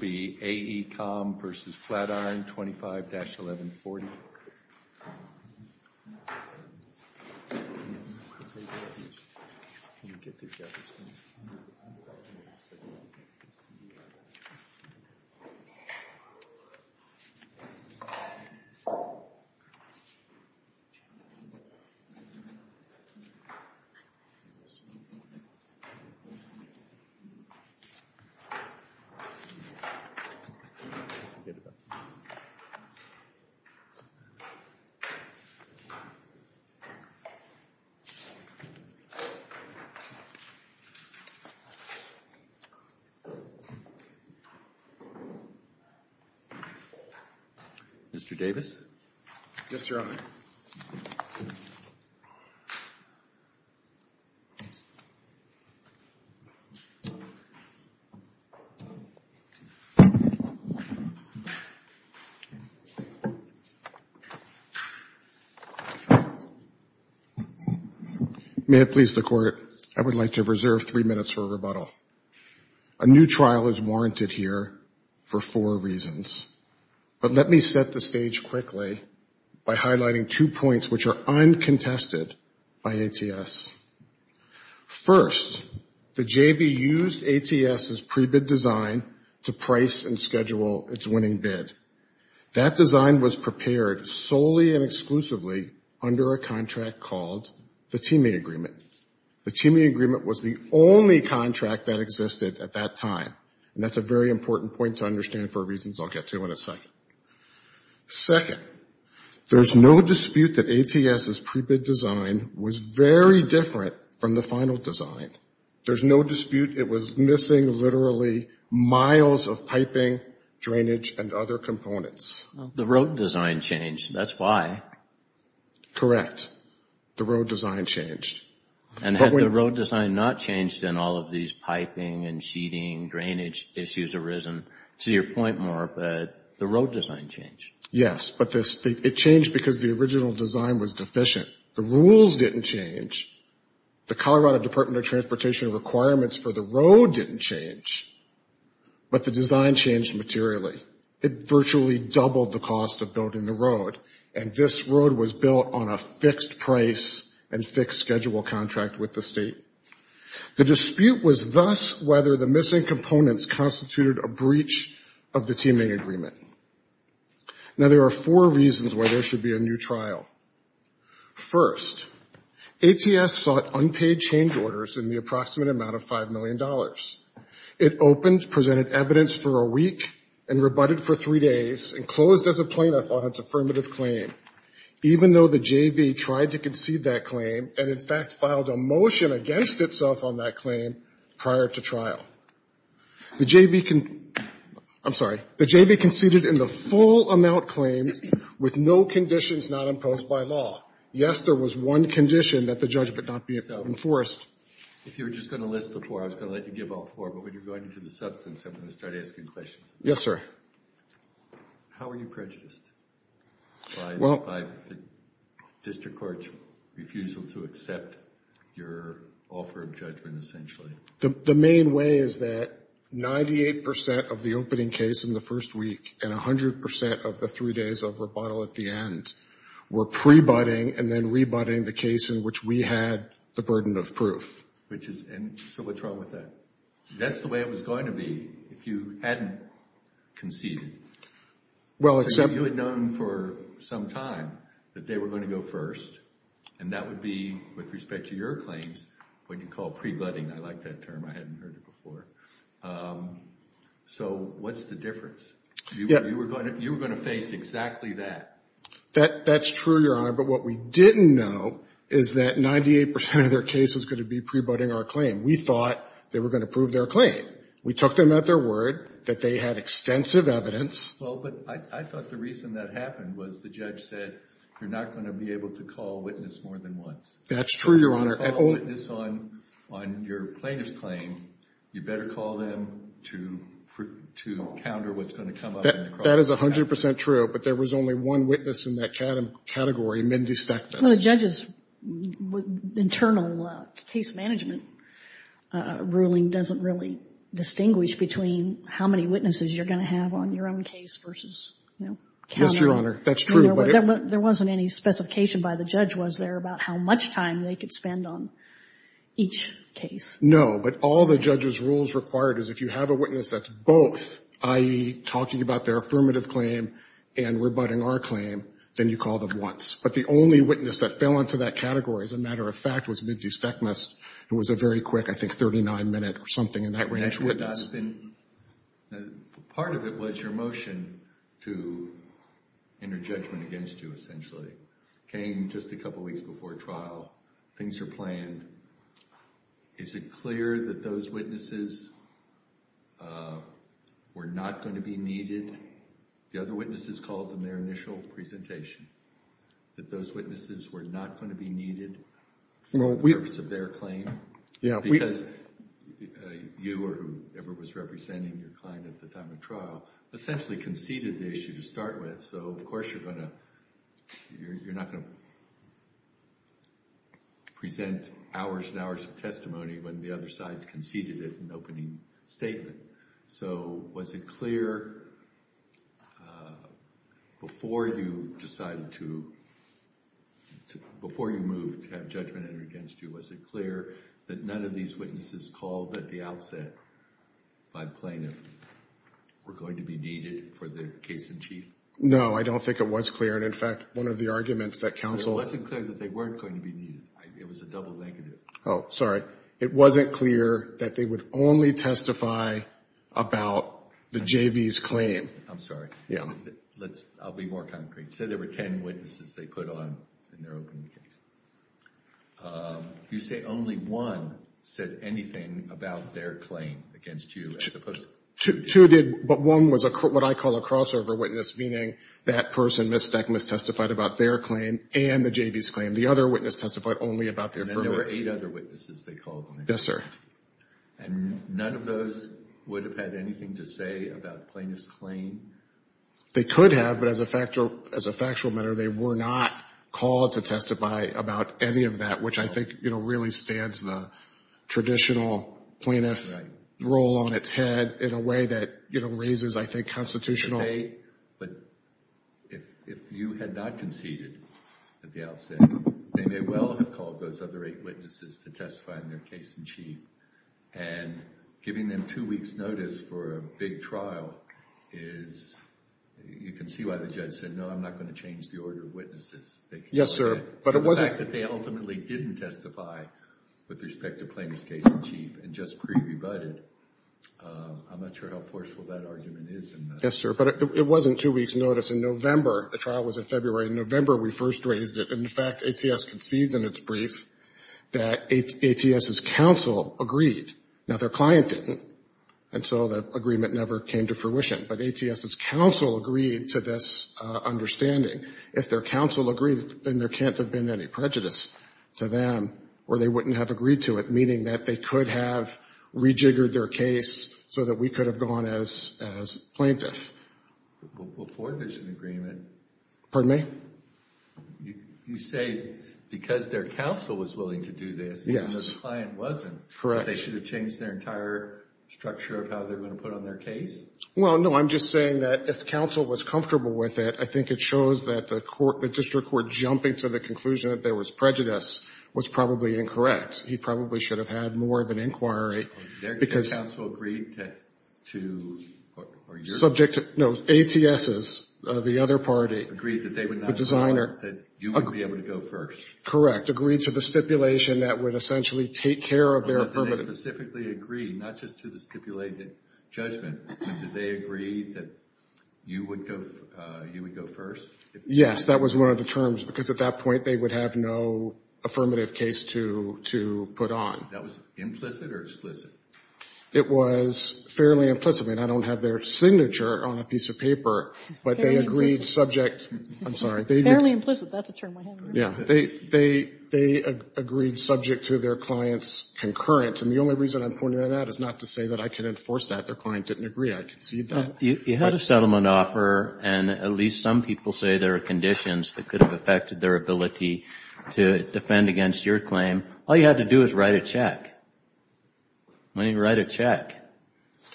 v. Flatiron 25-1140. Mr. Davis? Yes, Your Honor. May it please the Court, I would like to reserve three minutes for a rebuttal. A new trial is warranted here for four reasons, but let me set the stage quickly by highlighting two points which are uncontested by ATS. First, the JV used ATS' pre-bid design to price and schedule its winning bid. That design was prepared solely and exclusively under a contract called the Teaming Agreement. The Teaming Agreement was the only contract that existed at that time, and that's a very important point to understand for reasons I'll get to in a second. Second, there's no dispute that ATS' pre-bid design was very different from the final design. There's no dispute it was missing literally miles of piping, drainage, and other components. The road design changed. That's why. Correct. The road design changed. And had the road design not changed, then all of these piping and sheeting, drainage issues arisen. To your point, Mark, the road design changed. Yes, but it changed because the original design was deficient. The rules didn't change. The Colorado Department of Transportation requirements for the road didn't change, but the design changed materially. It virtually doubled the cost of building the road, and this road was built on a fixed price and fixed schedule contract with the state. The dispute was thus whether the missing components constituted a breach of the Teaming Agreement. Now, there are four reasons why there should be a new trial. First, ATS sought unpaid change orders in the approximate amount of $5 million. It opened, presented evidence for a week, and rebutted for three days, and closed as a plaintiff on its affirmative claim, even though the JV tried to concede that claim and, in fact, filed a motion against itself on that claim prior to trial. The JV conceded in the full amount claimed with no conditions not imposed by law. Yes, there was one condition that the judge would not be enforced. If you were just going to list the four, I was going to let you give all four, but when you're going into the substance, I'm going to start asking questions. Yes, sir. How were you prejudiced by the district court's refusal to accept your offer of judgment, essentially? The main way is that 98% of the opening case in the first week and 100% of the three days of rebuttal at the end were prebutting and then rebutting the case in which we had the burden of proof. So what's wrong with that? That's the way it was going to be if you hadn't conceded. You had known for some time that they were going to go first, and that would be, with respect to your claims, what you call prebutting. I like that term. I hadn't heard it before. So what's the difference? You were going to face exactly that. That's true, Your Honor, but what we didn't know is that 98% of their case was going to be prebutting our claim. We thought they were going to prove their claim. We took them at their word that they had extensive evidence. Well, but I thought the reason that happened was the judge said you're not going to be able to call a witness more than once. That's true, Your Honor. If you want to call a witness on your plaintiff's claim, you better call them to counter what's going to come up in the cross-examination. That is 100% true, but there was only one witness in that category, Mindy Stackness. Well, the judge's internal case management ruling doesn't really distinguish between how many witnesses you're going to have on your own case versus counting. Yes, Your Honor, that's true. There wasn't any specification by the judge, was there, about how much time they could spend on each case? No, but all the judge's rules required is if you have a witness that's both, i.e., talking about their affirmative claim and rebutting our claim, then you call them once. But the only witness that fell into that category, as a matter of fact, was Mindy Stackness, who was a very quick, I think, 39-minute or something in that range witness. Part of it was your motion to enter judgment against you, essentially. Came just a couple weeks before trial. Things are planned. Is it clear that those witnesses were not going to be needed? The other witnesses called them their initial presentation. That those witnesses were not going to be needed for the purpose of their claim? Because you or whoever was representing your client at the time of trial essentially conceded the issue to start with, so of course you're not going to present hours and hours of testimony when the other side conceded it in opening statement. So was it clear before you decided to move to have judgment entered against you, was it clear that none of these witnesses called at the outset by plaintiff were going to be needed for the case in chief? No, I don't think it was clear, and in fact, one of the arguments that counsel So it wasn't clear that they weren't going to be needed. It was a double negative. Oh, sorry. It wasn't clear that they would only testify about the JV's claim. I'm sorry. Yeah. I'll be more concrete. Say there were ten witnesses they put on in their opening case. You say only one said anything about their claim against you as opposed to two. Two did, but one was what I call a crossover witness, meaning that person, Ms. Stekmas, testified about their claim and the JV's claim. The other witness testified only about their firm. And there were eight other witnesses they called on. Yes, sir. And none of those would have had anything to say about the plaintiff's claim? They could have, but as a factual matter, they were not called to testify about any of that, which I think really stands the traditional plaintiff's role on its head in a way that raises, I think, constitutional. But if you had not conceded at the outset, they may well have called those other eight witnesses to testify in their case in chief. And giving them two weeks' notice for a big trial is you can see why the judge said, no, I'm not going to change the order of witnesses. Yes, sir. So the fact that they ultimately didn't testify with respect to plaintiff's case in chief and just pre-rebutted, I'm not sure how forceful that argument is. Yes, sir. But it wasn't two weeks' notice. In November, the trial was in February. In November, we first raised it. In fact, ATS concedes in its brief that ATS's counsel agreed. Now, their client didn't, and so the agreement never came to fruition. But ATS's counsel agreed to this understanding. If their counsel agreed, then there can't have been any prejudice to them or they wouldn't have agreed to it, meaning that they could have rejiggered their case so that we could have gone as plaintiff. Before this agreement. Pardon me? You say because their counsel was willing to do this. Yes. Even though the client wasn't. Correct. They should have changed their entire structure of how they're going to put on their case? Well, no, I'm just saying that if counsel was comfortable with it, I think it shows that the court, jumping to the conclusion that there was prejudice, was probably incorrect. He probably should have had more of an inquiry. Their counsel agreed to, or your counsel? No, ATS's, the other party. Agreed that they would not have thought that you would be able to go first? Correct. Agreed to the stipulation that would essentially take care of their affirmative. But did they specifically agree, not just to the stipulated judgment, but did they agree that you would go first? Yes. That was one of the terms. Because at that point, they would have no affirmative case to put on. That was implicit or explicit? It was fairly implicit. I don't have their signature on a piece of paper, but they agreed subject. I'm sorry. Fairly implicit. That's a term I have. Yeah. They agreed subject to their client's concurrence. And the only reason I'm pointing that out is not to say that I can enforce that. Their client didn't agree. I concede that. You had a settlement offer, and at least some people say there are conditions that could have affected their ability to defend against your claim. All you had to do was write a check. Why didn't you write a check?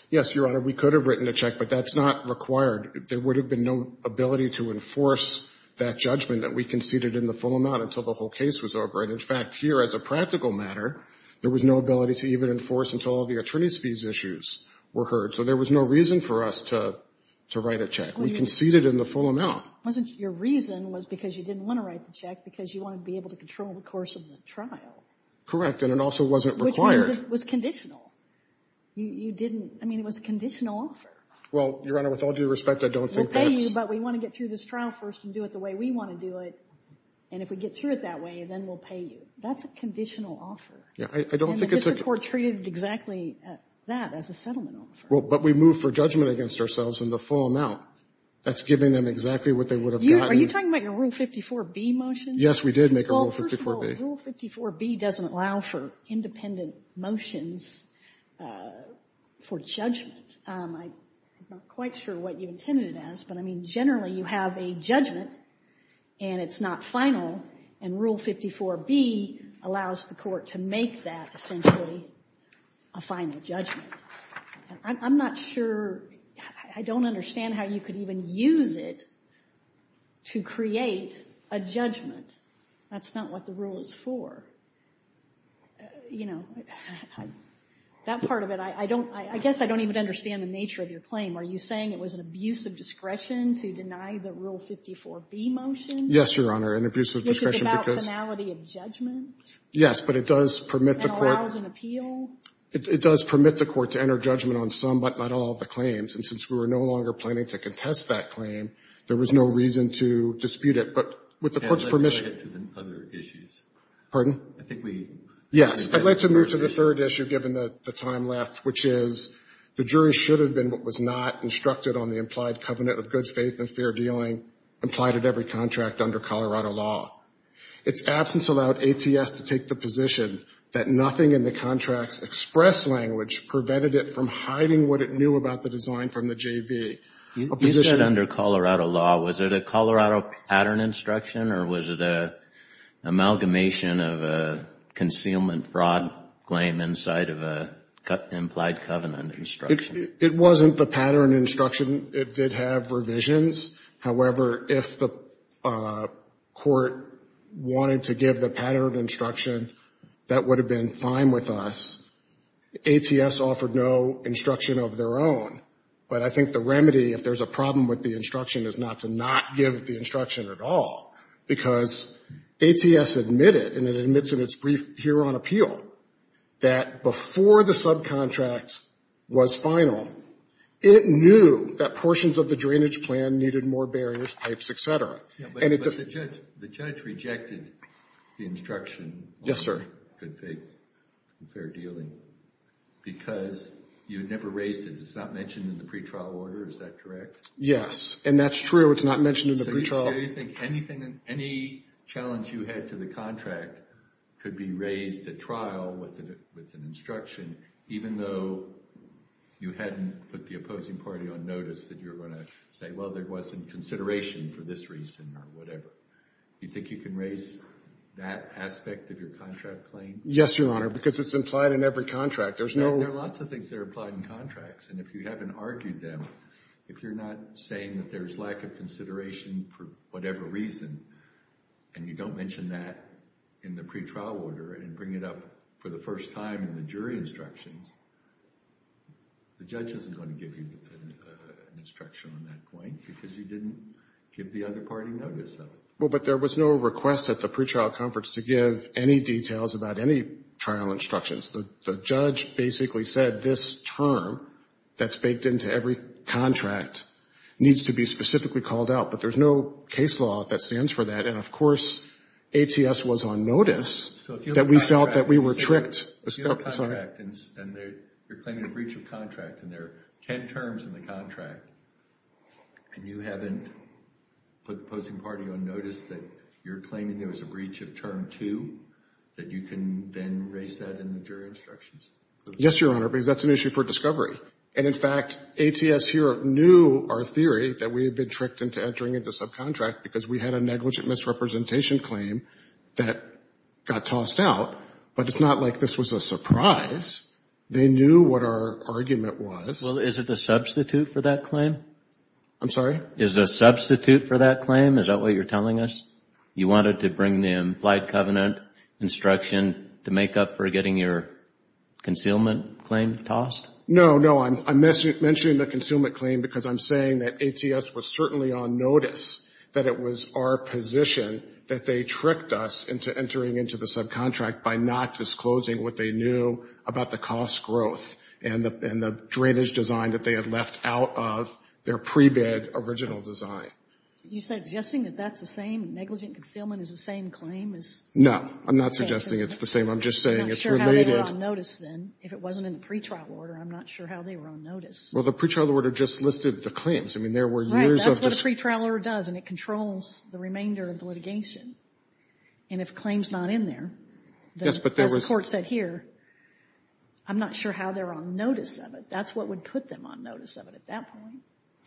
Yes, Your Honor. We could have written a check, but that's not required. There would have been no ability to enforce that judgment that we conceded in the full amount until the whole case was over. And, in fact, here, as a practical matter, there was no ability to even enforce until all the attorney's fees issues were heard. So there was no reason for us to write a check. We conceded in the full amount. Wasn't your reason was because you didn't want to write the check because you wanted to be able to control the course of the trial. Correct. And it also wasn't required. Which means it was conditional. You didn't – I mean, it was a conditional offer. Well, Your Honor, with all due respect, I don't think that's – We'll pay you, but we want to get through this trial first and do it the way we want to do it. And if we get through it that way, then we'll pay you. That's a conditional offer. Yeah. I don't think it's a – And the district court treated exactly that as a settlement offer. Well, but we moved for judgment against ourselves in the full amount. That's giving them exactly what they would have gotten. Are you talking about your Rule 54B motion? Yes, we did make a Rule 54B. Well, first of all, Rule 54B doesn't allow for independent motions for judgment. I'm not quite sure what you intended it as, but, I mean, generally you have a judgment and it's not final, and Rule 54B allows the court to make that essentially a final judgment. I'm not sure – I don't understand how you could even use it to create a judgment. That's not what the rule is for. You know, that part of it, I don't – I guess I don't even understand the nature of your claim. Are you saying it was an abuse of discretion to deny the Rule 54B motion? Yes, Your Honor, an abuse of discretion because – Which is about finality of judgment. Yes, but it does permit the court – And allows an appeal. It does permit the court to enter judgment on some, but not all, of the claims, and since we were no longer planning to contest that claim, there was no reason to dispute it. But with the court's permission – And let's not get to the other issues. Pardon? I think we – Yes. I'd like to move to the third issue, given the time left, which is the jury should have been what was not instructed on the implied covenant of good faith and fair dealing implied at every contract under Colorado law. Its absence allowed ATS to take the position that nothing in the contract's express language prevented it from hiding what it knew about the design from the JV. You said under Colorado law. Was it a Colorado pattern instruction, or was it an amalgamation of a concealment fraud claim inside of an implied covenant instruction? It wasn't the pattern instruction. It did have revisions. However, if the court wanted to give the pattern of instruction, that would have been fine with us. ATS offered no instruction of their own. But I think the remedy, if there's a problem with the instruction, is not to not give the instruction at all, because ATS admitted, and it admits in its brief hearing on appeal, that before the subcontract was final, it knew that portions of the drainage plan needed more barriers, pipes, et cetera. But the judge rejected the instruction on good faith and fair dealing because you had never raised it. It's not mentioned in the pretrial order. Is that correct? Yes. And that's true. It's not mentioned in the pretrial. So you think anything, any challenge you had to the contract could be raised at trial with an instruction, even though you hadn't put the opposing party on notice that you were going to say, well, there wasn't consideration for this reason or whatever. Do you think you can raise that aspect of your contract claim? Yes, Your Honor, because it's implied in every contract. There's no... There are lots of things that are implied in contracts. And if you haven't argued them, if you're not saying that there's lack of consideration for whatever reason, and you don't mention that in the pretrial order and bring it up for the first time in the jury instructions, the judge isn't going to give you an instruction on that point because you didn't give the other party notice of it. Well, but there was no request at the pretrial conference to give any details about any trial instructions. The judge basically said this term that's baked into every contract needs to be specifically called out. But there's no case law that stands for that. And, of course, ATS was on notice that we felt that we were tricked. And you're claiming a breach of contract, and there are ten terms in the contract, and you haven't put the opposing party on notice that you're claiming there was a breach of term two, that you can then raise that in the jury instructions? Yes, Your Honor, because that's an issue for discovery. And, in fact, ATS here knew our theory that we had been tricked into entering into subcontract because we had a negligent misrepresentation claim that got this was a surprise. They knew what our argument was. Well, is it a substitute for that claim? I'm sorry? Is it a substitute for that claim? Is that what you're telling us? You wanted to bring the implied covenant instruction to make up for getting your concealment claim tossed? No, no. I'm mentioning the concealment claim because I'm saying that ATS was certainly on notice that it was our position that they tricked us into entering into the subcontract by not disclosing what they knew about the cost growth and the drainage design that they had left out of their pre-bid original design. Are you suggesting that that's the same? Negligent concealment is the same claim? No. I'm not suggesting it's the same. I'm just saying it's related. I'm not sure how they were on notice then. If it wasn't in the pretrial order, I'm not sure how they were on notice. Well, the pretrial order just listed the claims. I mean, there were years of this. That's what a pretrial order does, and it controls the remainder of the litigation. And if a claim is not in there, as the court said here, I'm not sure how they're on notice of it. That's what would put them on notice of it at that point.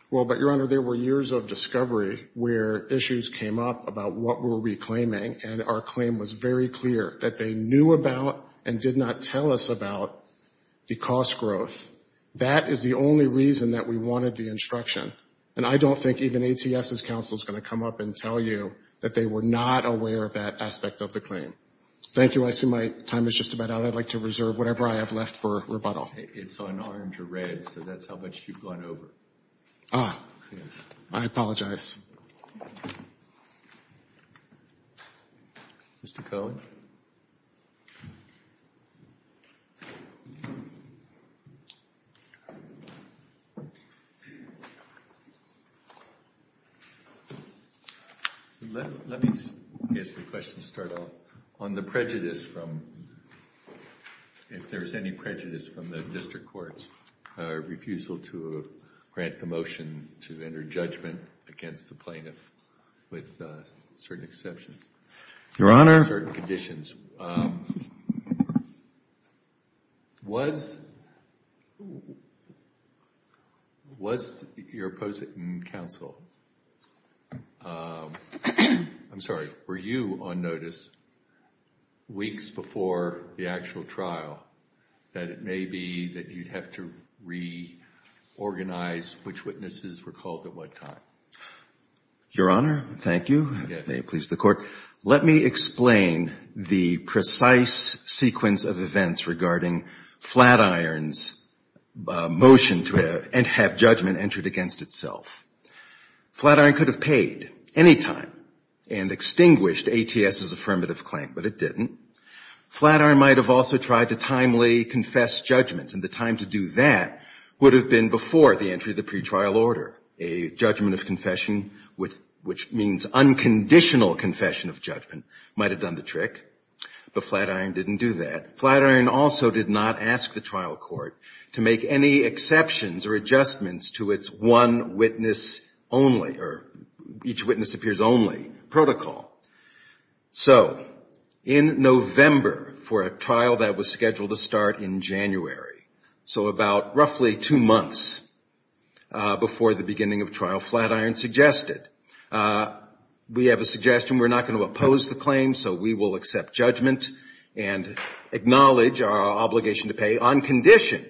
Well, but, Your Honor, there were years of discovery where issues came up about what we're reclaiming, and our claim was very clear that they knew about and did not tell us about the cost growth. That is the only reason that we wanted the instruction. And I don't think even ATS's counsel is going to come up and tell you that they were not aware of that aspect of the claim. Thank you. I see my time is just about out. I'd like to reserve whatever I have left for rebuttal. It's on orange or red, so that's how much you've gone over. Ah. Yes. I apologize. Mr. Cohn. Let me ask a question to start off. On the prejudice from, if there's any prejudice from the district courts, refusal to grant the motion to enter judgment against the plaintiff with certain exceptions. Your Honor. With certain conditions. Was your opposing counsel, I'm sorry, were you on notice weeks before the actual trial that it may be that you'd have to reorganize which witnesses were called at what time? Your Honor, thank you. Yes. May it please the Court. Let me explain the precise sequence of events regarding Flatiron's motion to have judgment entered against itself. Flatiron could have paid any time and extinguished ATS's affirmative claim, but it didn't. Flatiron might have also tried to timely confess judgment, and the time to do that would have been before the entry of the pretrial order, a judgment of might have done the trick. But Flatiron didn't do that. Flatiron also did not ask the trial court to make any exceptions or adjustments to its one witness only or each witness appears only protocol. So in November, for a trial that was scheduled to start in January, so about roughly two months before the beginning of trial, Flatiron suggested, we have a suggestion. We're not going to oppose the claim, so we will accept judgment and acknowledge our obligation to pay on condition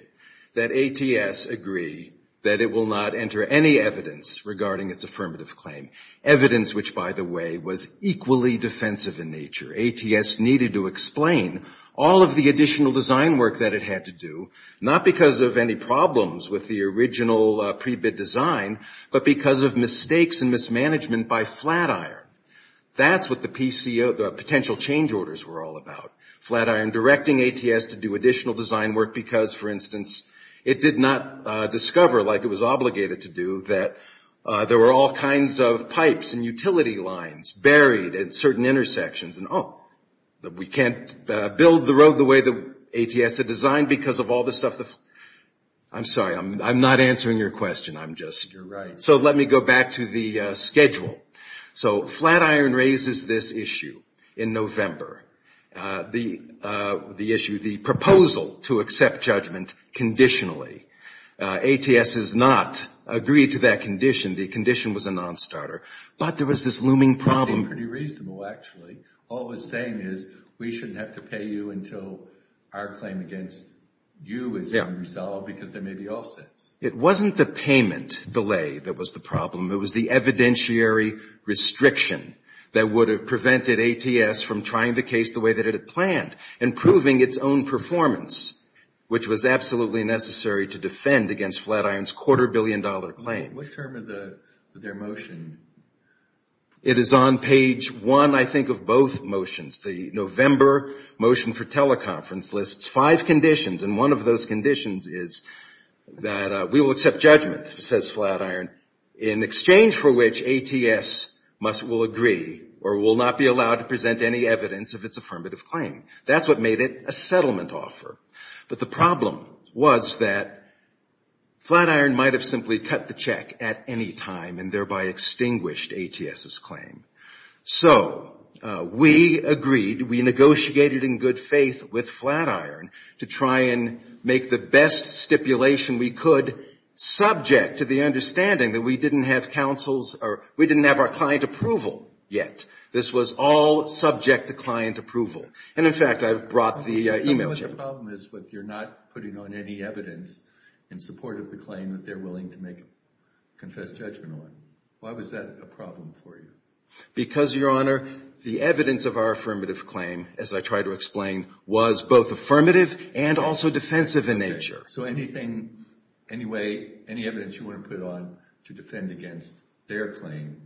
that ATS agree that it will not enter any evidence regarding its affirmative claim, evidence which, by the way, was equally defensive in nature. ATS needed to explain all of the additional design work that it had to do, not because of any problems with the original pre-bid design, but because of mistakes and mismanagement by Flatiron. That's what the PCO, the potential change orders were all about. Flatiron directing ATS to do additional design work because, for instance, it did not discover, like it was obligated to do, that there were all kinds of pipes and utility lines buried at certain intersections. And, oh, we can't build the road the way that ATS had designed because of all the stuff. I'm sorry. I'm not answering your question. I'm just. You're right. So let me go back to the schedule. So Flatiron raises this issue in November, the issue, the proposal to accept judgment conditionally. ATS has not agreed to that condition. The condition was a nonstarter. But there was this looming problem. It seemed pretty reasonable, actually. All it was saying is we shouldn't have to pay you until our claim against you is resolved because there may be offsets. It wasn't the payment delay that was the problem. It was the evidentiary restriction that would have prevented ATS from trying the case the way that it had planned and proving its own performance, which was absolutely necessary to defend against Flatiron's quarter billion dollar claim. What term of their motion? It is on page one, I think, of both motions. The November motion for teleconference lists five conditions. And one of those conditions is that we will accept judgment, says Flatiron, in exchange for which ATS will agree or will not be allowed to present any evidence of its affirmative claim. That's what made it a settlement offer. But the problem was that Flatiron might have simply cut the check at any time and thereby extinguished ATS's claim. So we agreed, we negotiated in good faith with Flatiron to try and make the best stipulation we could subject to the understanding that we didn't have counsel's or we didn't have our client approval yet. This was all subject to client approval. And, in fact, I've brought the e-mail. The problem is that you're not putting on any evidence in support of the claim that they're willing to make a confessed judgment on. Why was that a problem for you? Because, Your Honor, the evidence of our affirmative claim, as I tried to explain, was both affirmative and also defensive in nature. Okay. So anything, any way, any evidence you want to put on to defend against their claim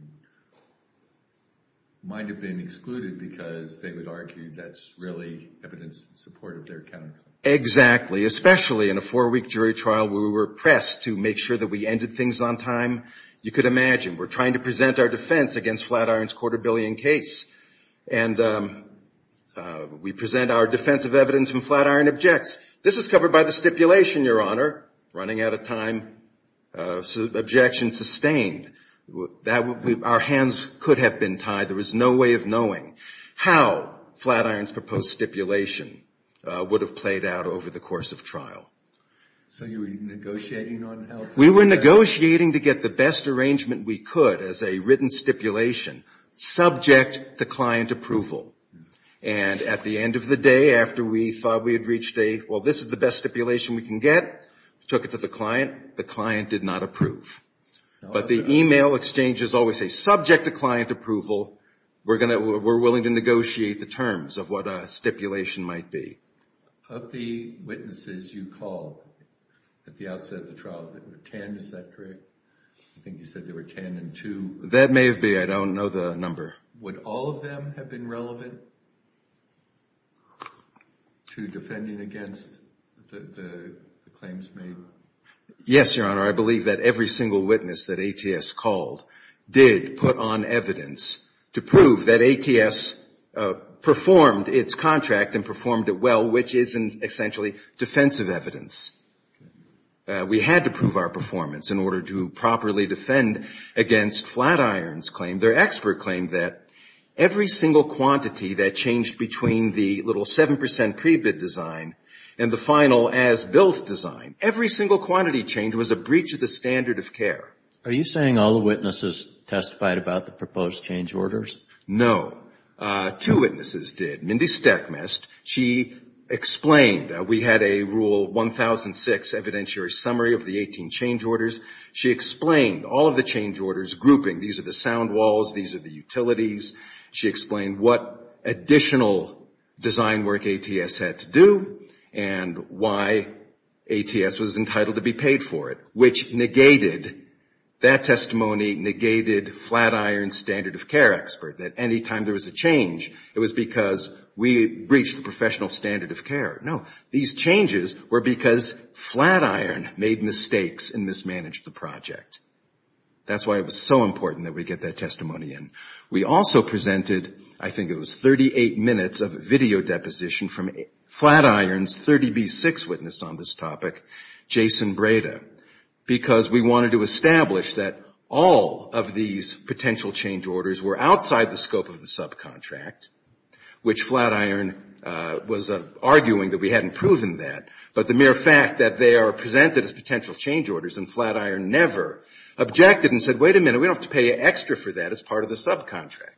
might have been excluded because they would argue that's really evidence in support of their counterclaim. Exactly. Especially in a four-week jury trial where we were pressed to make sure that we ended things on time. You could imagine. We're trying to present our defense against Flatiron's quarter-billion case. And we present our defensive evidence and Flatiron objects. This is covered by the stipulation, Your Honor. Running out of time. Objection sustained. Our hands could have been tied. There was no way of knowing how Flatiron's proposed stipulation would have played out over the course of trial. So you were negotiating on how to get it out? We were negotiating to get the best arrangement we could as a written stipulation subject to client approval. And at the end of the day, after we thought we had reached a, well, this is the best stipulation we can get, took it to the client, the client did not approve. But the email exchanges always say, subject to client approval, we're willing to negotiate the terms of what a stipulation might be. Of the witnesses you called at the outset of the trial, there were ten, is that correct? I think you said there were ten and two. That may have been. I don't know the number. Would all of them have been relevant to defending against the claims made? Yes, Your Honor. I believe that every single witness that ATS called did put on evidence to prove that ATS performed its contract and performed it well, which is essentially defensive evidence. We had to prove our performance in order to properly defend against Flatiron's claim. Their expert claimed that every single quantity that changed between the little 7 percent pre-bid design and the final as-built design, every single quantity change was a breach of the standard of care. Are you saying all the witnesses testified about the proposed change orders? No. Two witnesses did. Mindy Stekmast, she explained. We had a Rule 1006 evidentiary summary of the 18 change orders. She explained all of the change orders grouping. These are the sound walls. These are the utilities. She explained what additional design work ATS had to do and why ATS was entitled to be paid for it, which negated, that testimony negated Flatiron's standard of care expert. That any time there was a change, it was because we breached the professional standard of care. No. These changes were because Flatiron made mistakes and mismanaged the project. That's why it was so important that we get that testimony in. We also presented, I think it was 38 minutes of video deposition from Flatiron's 30B6 witness on this topic, Jason Breda, because we wanted to establish that all of these potential change orders were outside the scope of the subcontract, which Flatiron was arguing that we hadn't proven that, but the mere fact that they are presented as potential change orders and Flatiron never objected and said, wait a minute, we don't have to pay extra for that as part of the subcontract.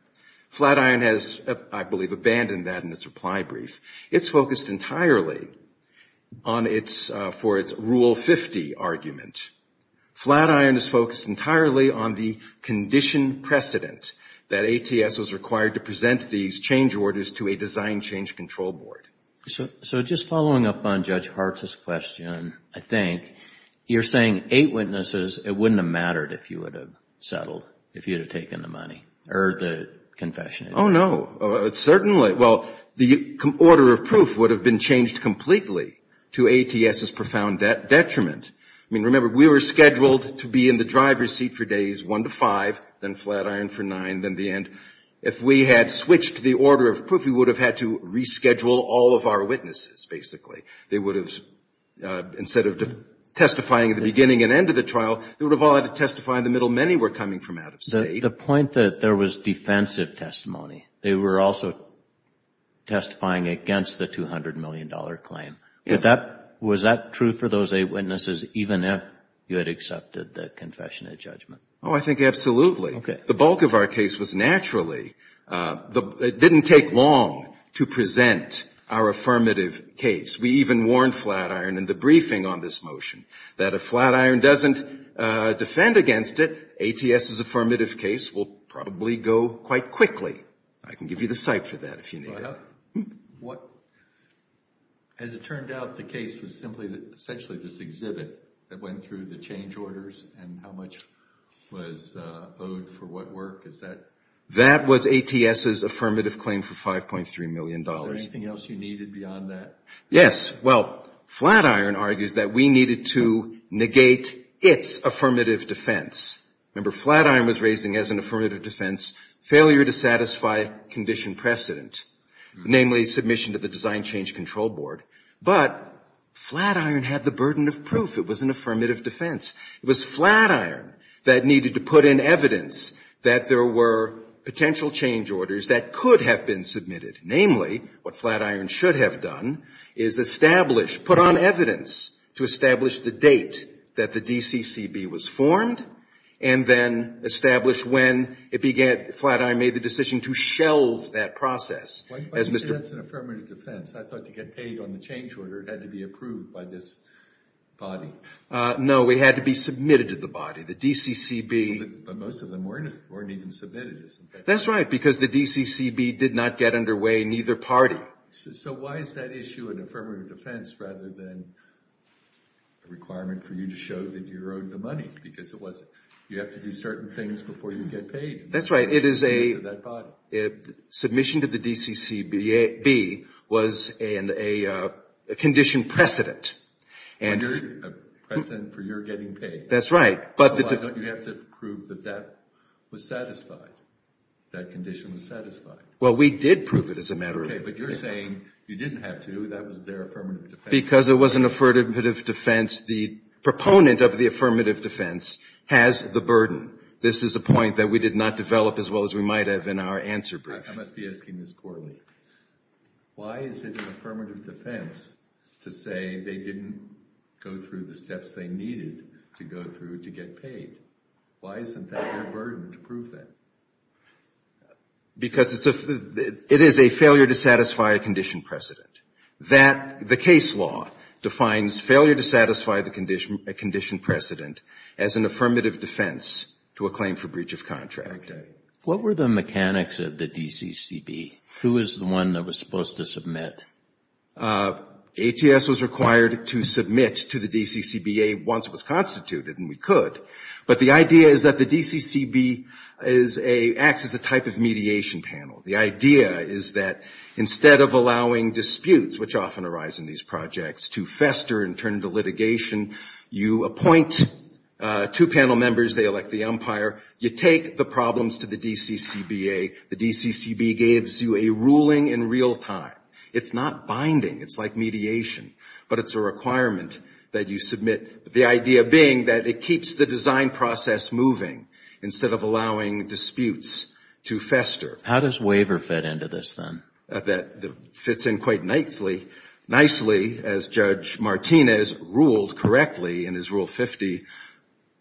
Flatiron has, I believe, abandoned that in its reply brief. It's focused entirely on its, for its Rule 50 argument. Flatiron is focused entirely on the condition precedent that ATS was required to present these change orders to a design change control board. So just following up on Judge Hart's question, I think, you're saying eight witnesses, it wouldn't have mattered if you would have settled, if you would have taken the money, or the confession. Oh, no. Certainly. Well, the order of proof would have been changed completely to ATS's profound detriment. I mean, remember, we were scheduled to be in the driver's seat for days one to five, then Flatiron for nine, then the end. If we had switched the order of proof, we would have had to reschedule all of our witnesses, basically. They would have, instead of testifying at the beginning and end of the trial, they would have all had to testify in the middle. Many were coming from out of State. The point that there was defensive testimony. They were also testifying against the $200 million claim. Yes. Was that true for those eight witnesses, even if you had accepted the confession and judgment? Oh, I think absolutely. Okay. The bulk of our case was naturally, it didn't take long to present our affirmative case. We even warned Flatiron in the briefing on this motion that if Flatiron doesn't defend against it, ATS's affirmative case will probably go quite quickly. I can give you the site for that if you need it. Well, as it turned out, the case was simply essentially just exhibit that went through the change orders and how much was owed for what work. Is that? That was ATS's affirmative claim for $5.3 million. Is there anything else you needed beyond that? Yes. Well, Flatiron argues that we needed to negate its affirmative defense. Remember, Flatiron was raising as an affirmative defense failure to satisfy condition precedent, namely submission to the Design Change Control Board. But Flatiron had the burden of proof it was an affirmative defense. It was Flatiron that needed to put in evidence that there were potential change orders that could have been submitted. Namely, what Flatiron should have done is establish, put on evidence to establish the date that the DCCB was formed and then establish when it began, Flatiron made the decision to shelve that process. Why do you say that's an affirmative defense? I thought to get paid on the change order, it had to be approved by this body. No. It had to be submitted to the body. The DCCB. But most of them weren't even submitted. That's right. Because the DCCB did not get underway in either party. So why is that issue an affirmative defense rather than a requirement for you to show that you owed the money? Because you have to do certain things before you get paid. That's right. Submission to the DCCB was a condition precedent. A precedent for your getting paid. That's right. You have to prove that that was satisfied. That condition was satisfied. Well, we did prove it as a matter of fact. Okay. But you're saying you didn't have to. That was their affirmative defense. Because it was an affirmative defense. The proponent of the affirmative defense has the burden. This is a point that we did not develop as well as we might have in our answer brief. I must be asking this poorly. Why is it an affirmative defense to say they didn't go through the steps they needed to go through to get paid? Why isn't that their burden to prove that? Because it is a failure to satisfy a condition precedent. The case law defines failure to satisfy a condition precedent as an affirmative defense to a claim for breach of contract. Okay. What were the mechanics of the DCCB? Who was the one that was supposed to submit? ATS was required to submit to the DCCBA once it was constituted, and we could. But the idea is that the DCCB acts as a type of mediation panel. The idea is that instead of allowing disputes, which often arise in these projects, to fester and turn into litigation, you appoint two panel members. They elect the umpire. You take the problems to the DCCBA. The DCCB gives you a ruling in real time. It's not binding. It's like mediation, but it's a requirement that you submit, the idea being that it keeps the design process moving instead of allowing disputes to fester. How does waiver fit into this, then? That fits in quite nicely, as Judge Martinez ruled correctly in his Rule 50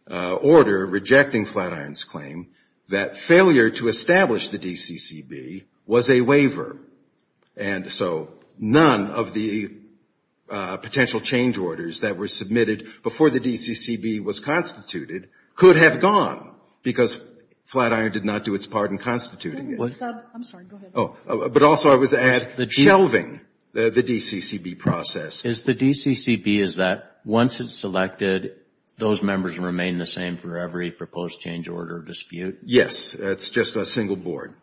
order, rejecting Flatiron's claim, that failure to establish the DCCB was a waiver and so none of the potential change orders that were submitted before the DCCB was constituted could have gone because Flatiron did not do its part in constituting it. I'm sorry. Go ahead. But also I was at shelving the DCCB process. Is the DCCB is that once it's selected, those members remain the same for every proposed change order dispute? Yes. It's just a single board.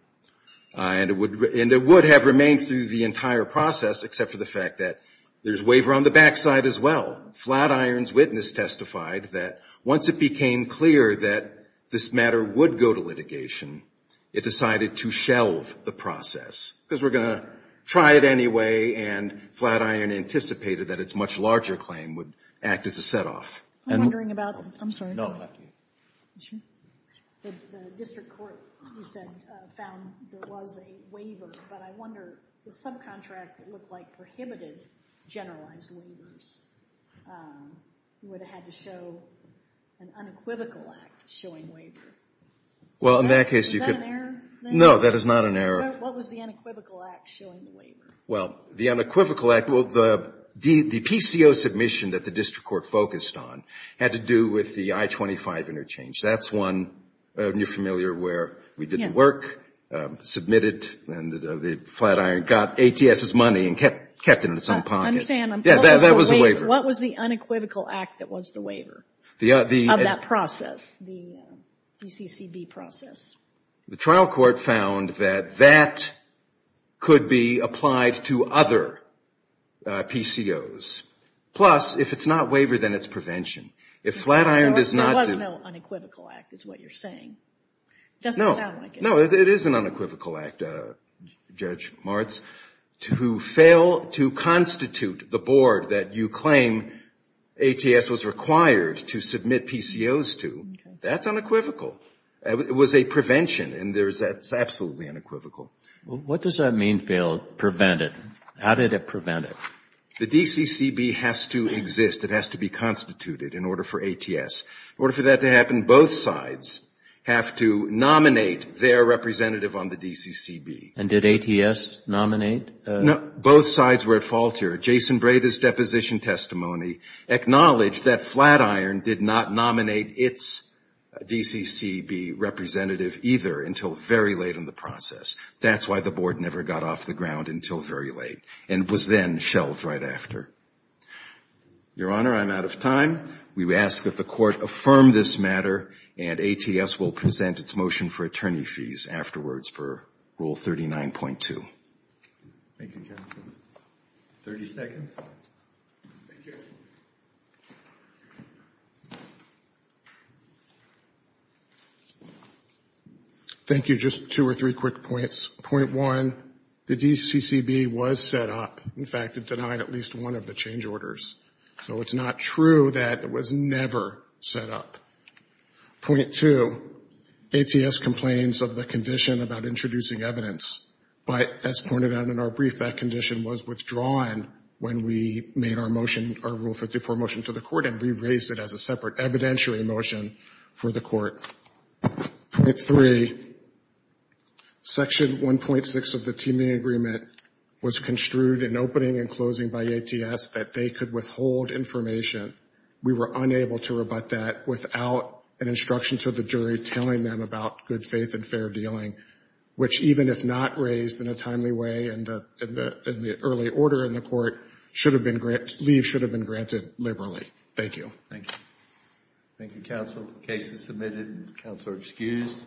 And it would have remained through the entire process except for the fact that there's waiver on the back side as well. Flatiron's witness testified that once it became clear that this matter would go to litigation, it decided to shelve the process because we're going to try it anyway, and Flatiron anticipated that its much larger claim would act as a set-off. I'm wondering about the – I'm sorry. No, after you. The district court, you said, found there was a waiver, but I wonder the subcontract that looked like prohibited generalized waivers, you would have had to show an unequivocal act showing waiver. Well, in that case you could. Is that an error? No, that is not an error. What was the unequivocal act showing the waiver? Well, the unequivocal act, well, the PCO submission that the district court focused on had to do with the I-25 interchange. That's one, are you familiar, where we did the work, submitted, and Flatiron got ATS's money and kept it in its own pocket. I understand. Yeah, that was a waiver. What was the unequivocal act that was the waiver of that process, the PCCB process? The trial court found that that could be applied to other PCOs. Plus, if it's not waivered, then it's prevention. If Flatiron does not do There was no unequivocal act is what you're saying. It doesn't sound like it. No, it is an unequivocal act, Judge Martz. To fail to constitute the board that you claim ATS was required to submit PCOs to, that's unequivocal. It was a prevention, and that's absolutely unequivocal. What does that mean, fail, prevent it? How did it prevent it? The DCCB has to exist. It has to be constituted in order for ATS. In order for that to happen, both sides have to nominate their representative on the DCCB. And did ATS nominate? Both sides were at fault here. Jason Breda's deposition testimony acknowledged that Flatiron did not nominate its DCCB representative either until very late in the process. That's why the board never got off the ground until very late and was then shelved right after. Your Honor, I'm out of time. We ask that the Court affirm this matter, and ATS will present its motion for attorney fees afterwards per Rule 39.2. Thank you, Counsel. 30 seconds. Thank you. Thank you. Just two or three quick points. Point one, the DCCB was set up. In fact, it denied at least one of the change orders. So it's not true that it was never set up. Point two, ATS complains of the condition about introducing evidence. But as pointed out in our brief, that condition was withdrawn when we made our motion, our Rule 54 motion to the Court, and we raised it as a separate evidentiary motion for the Court. Point three, Section 1.6 of the teaming agreement was construed in opening and closing by ATS that they could withhold information. We were unable to rebut that without an instruction to the jury telling them about good faith and fair dealing, which even if not raised in a timely way in the early order in the Court, leave should have been granted liberally. Thank you. Thank you. Thank you, Counsel. The case is submitted, and Counsel are excused.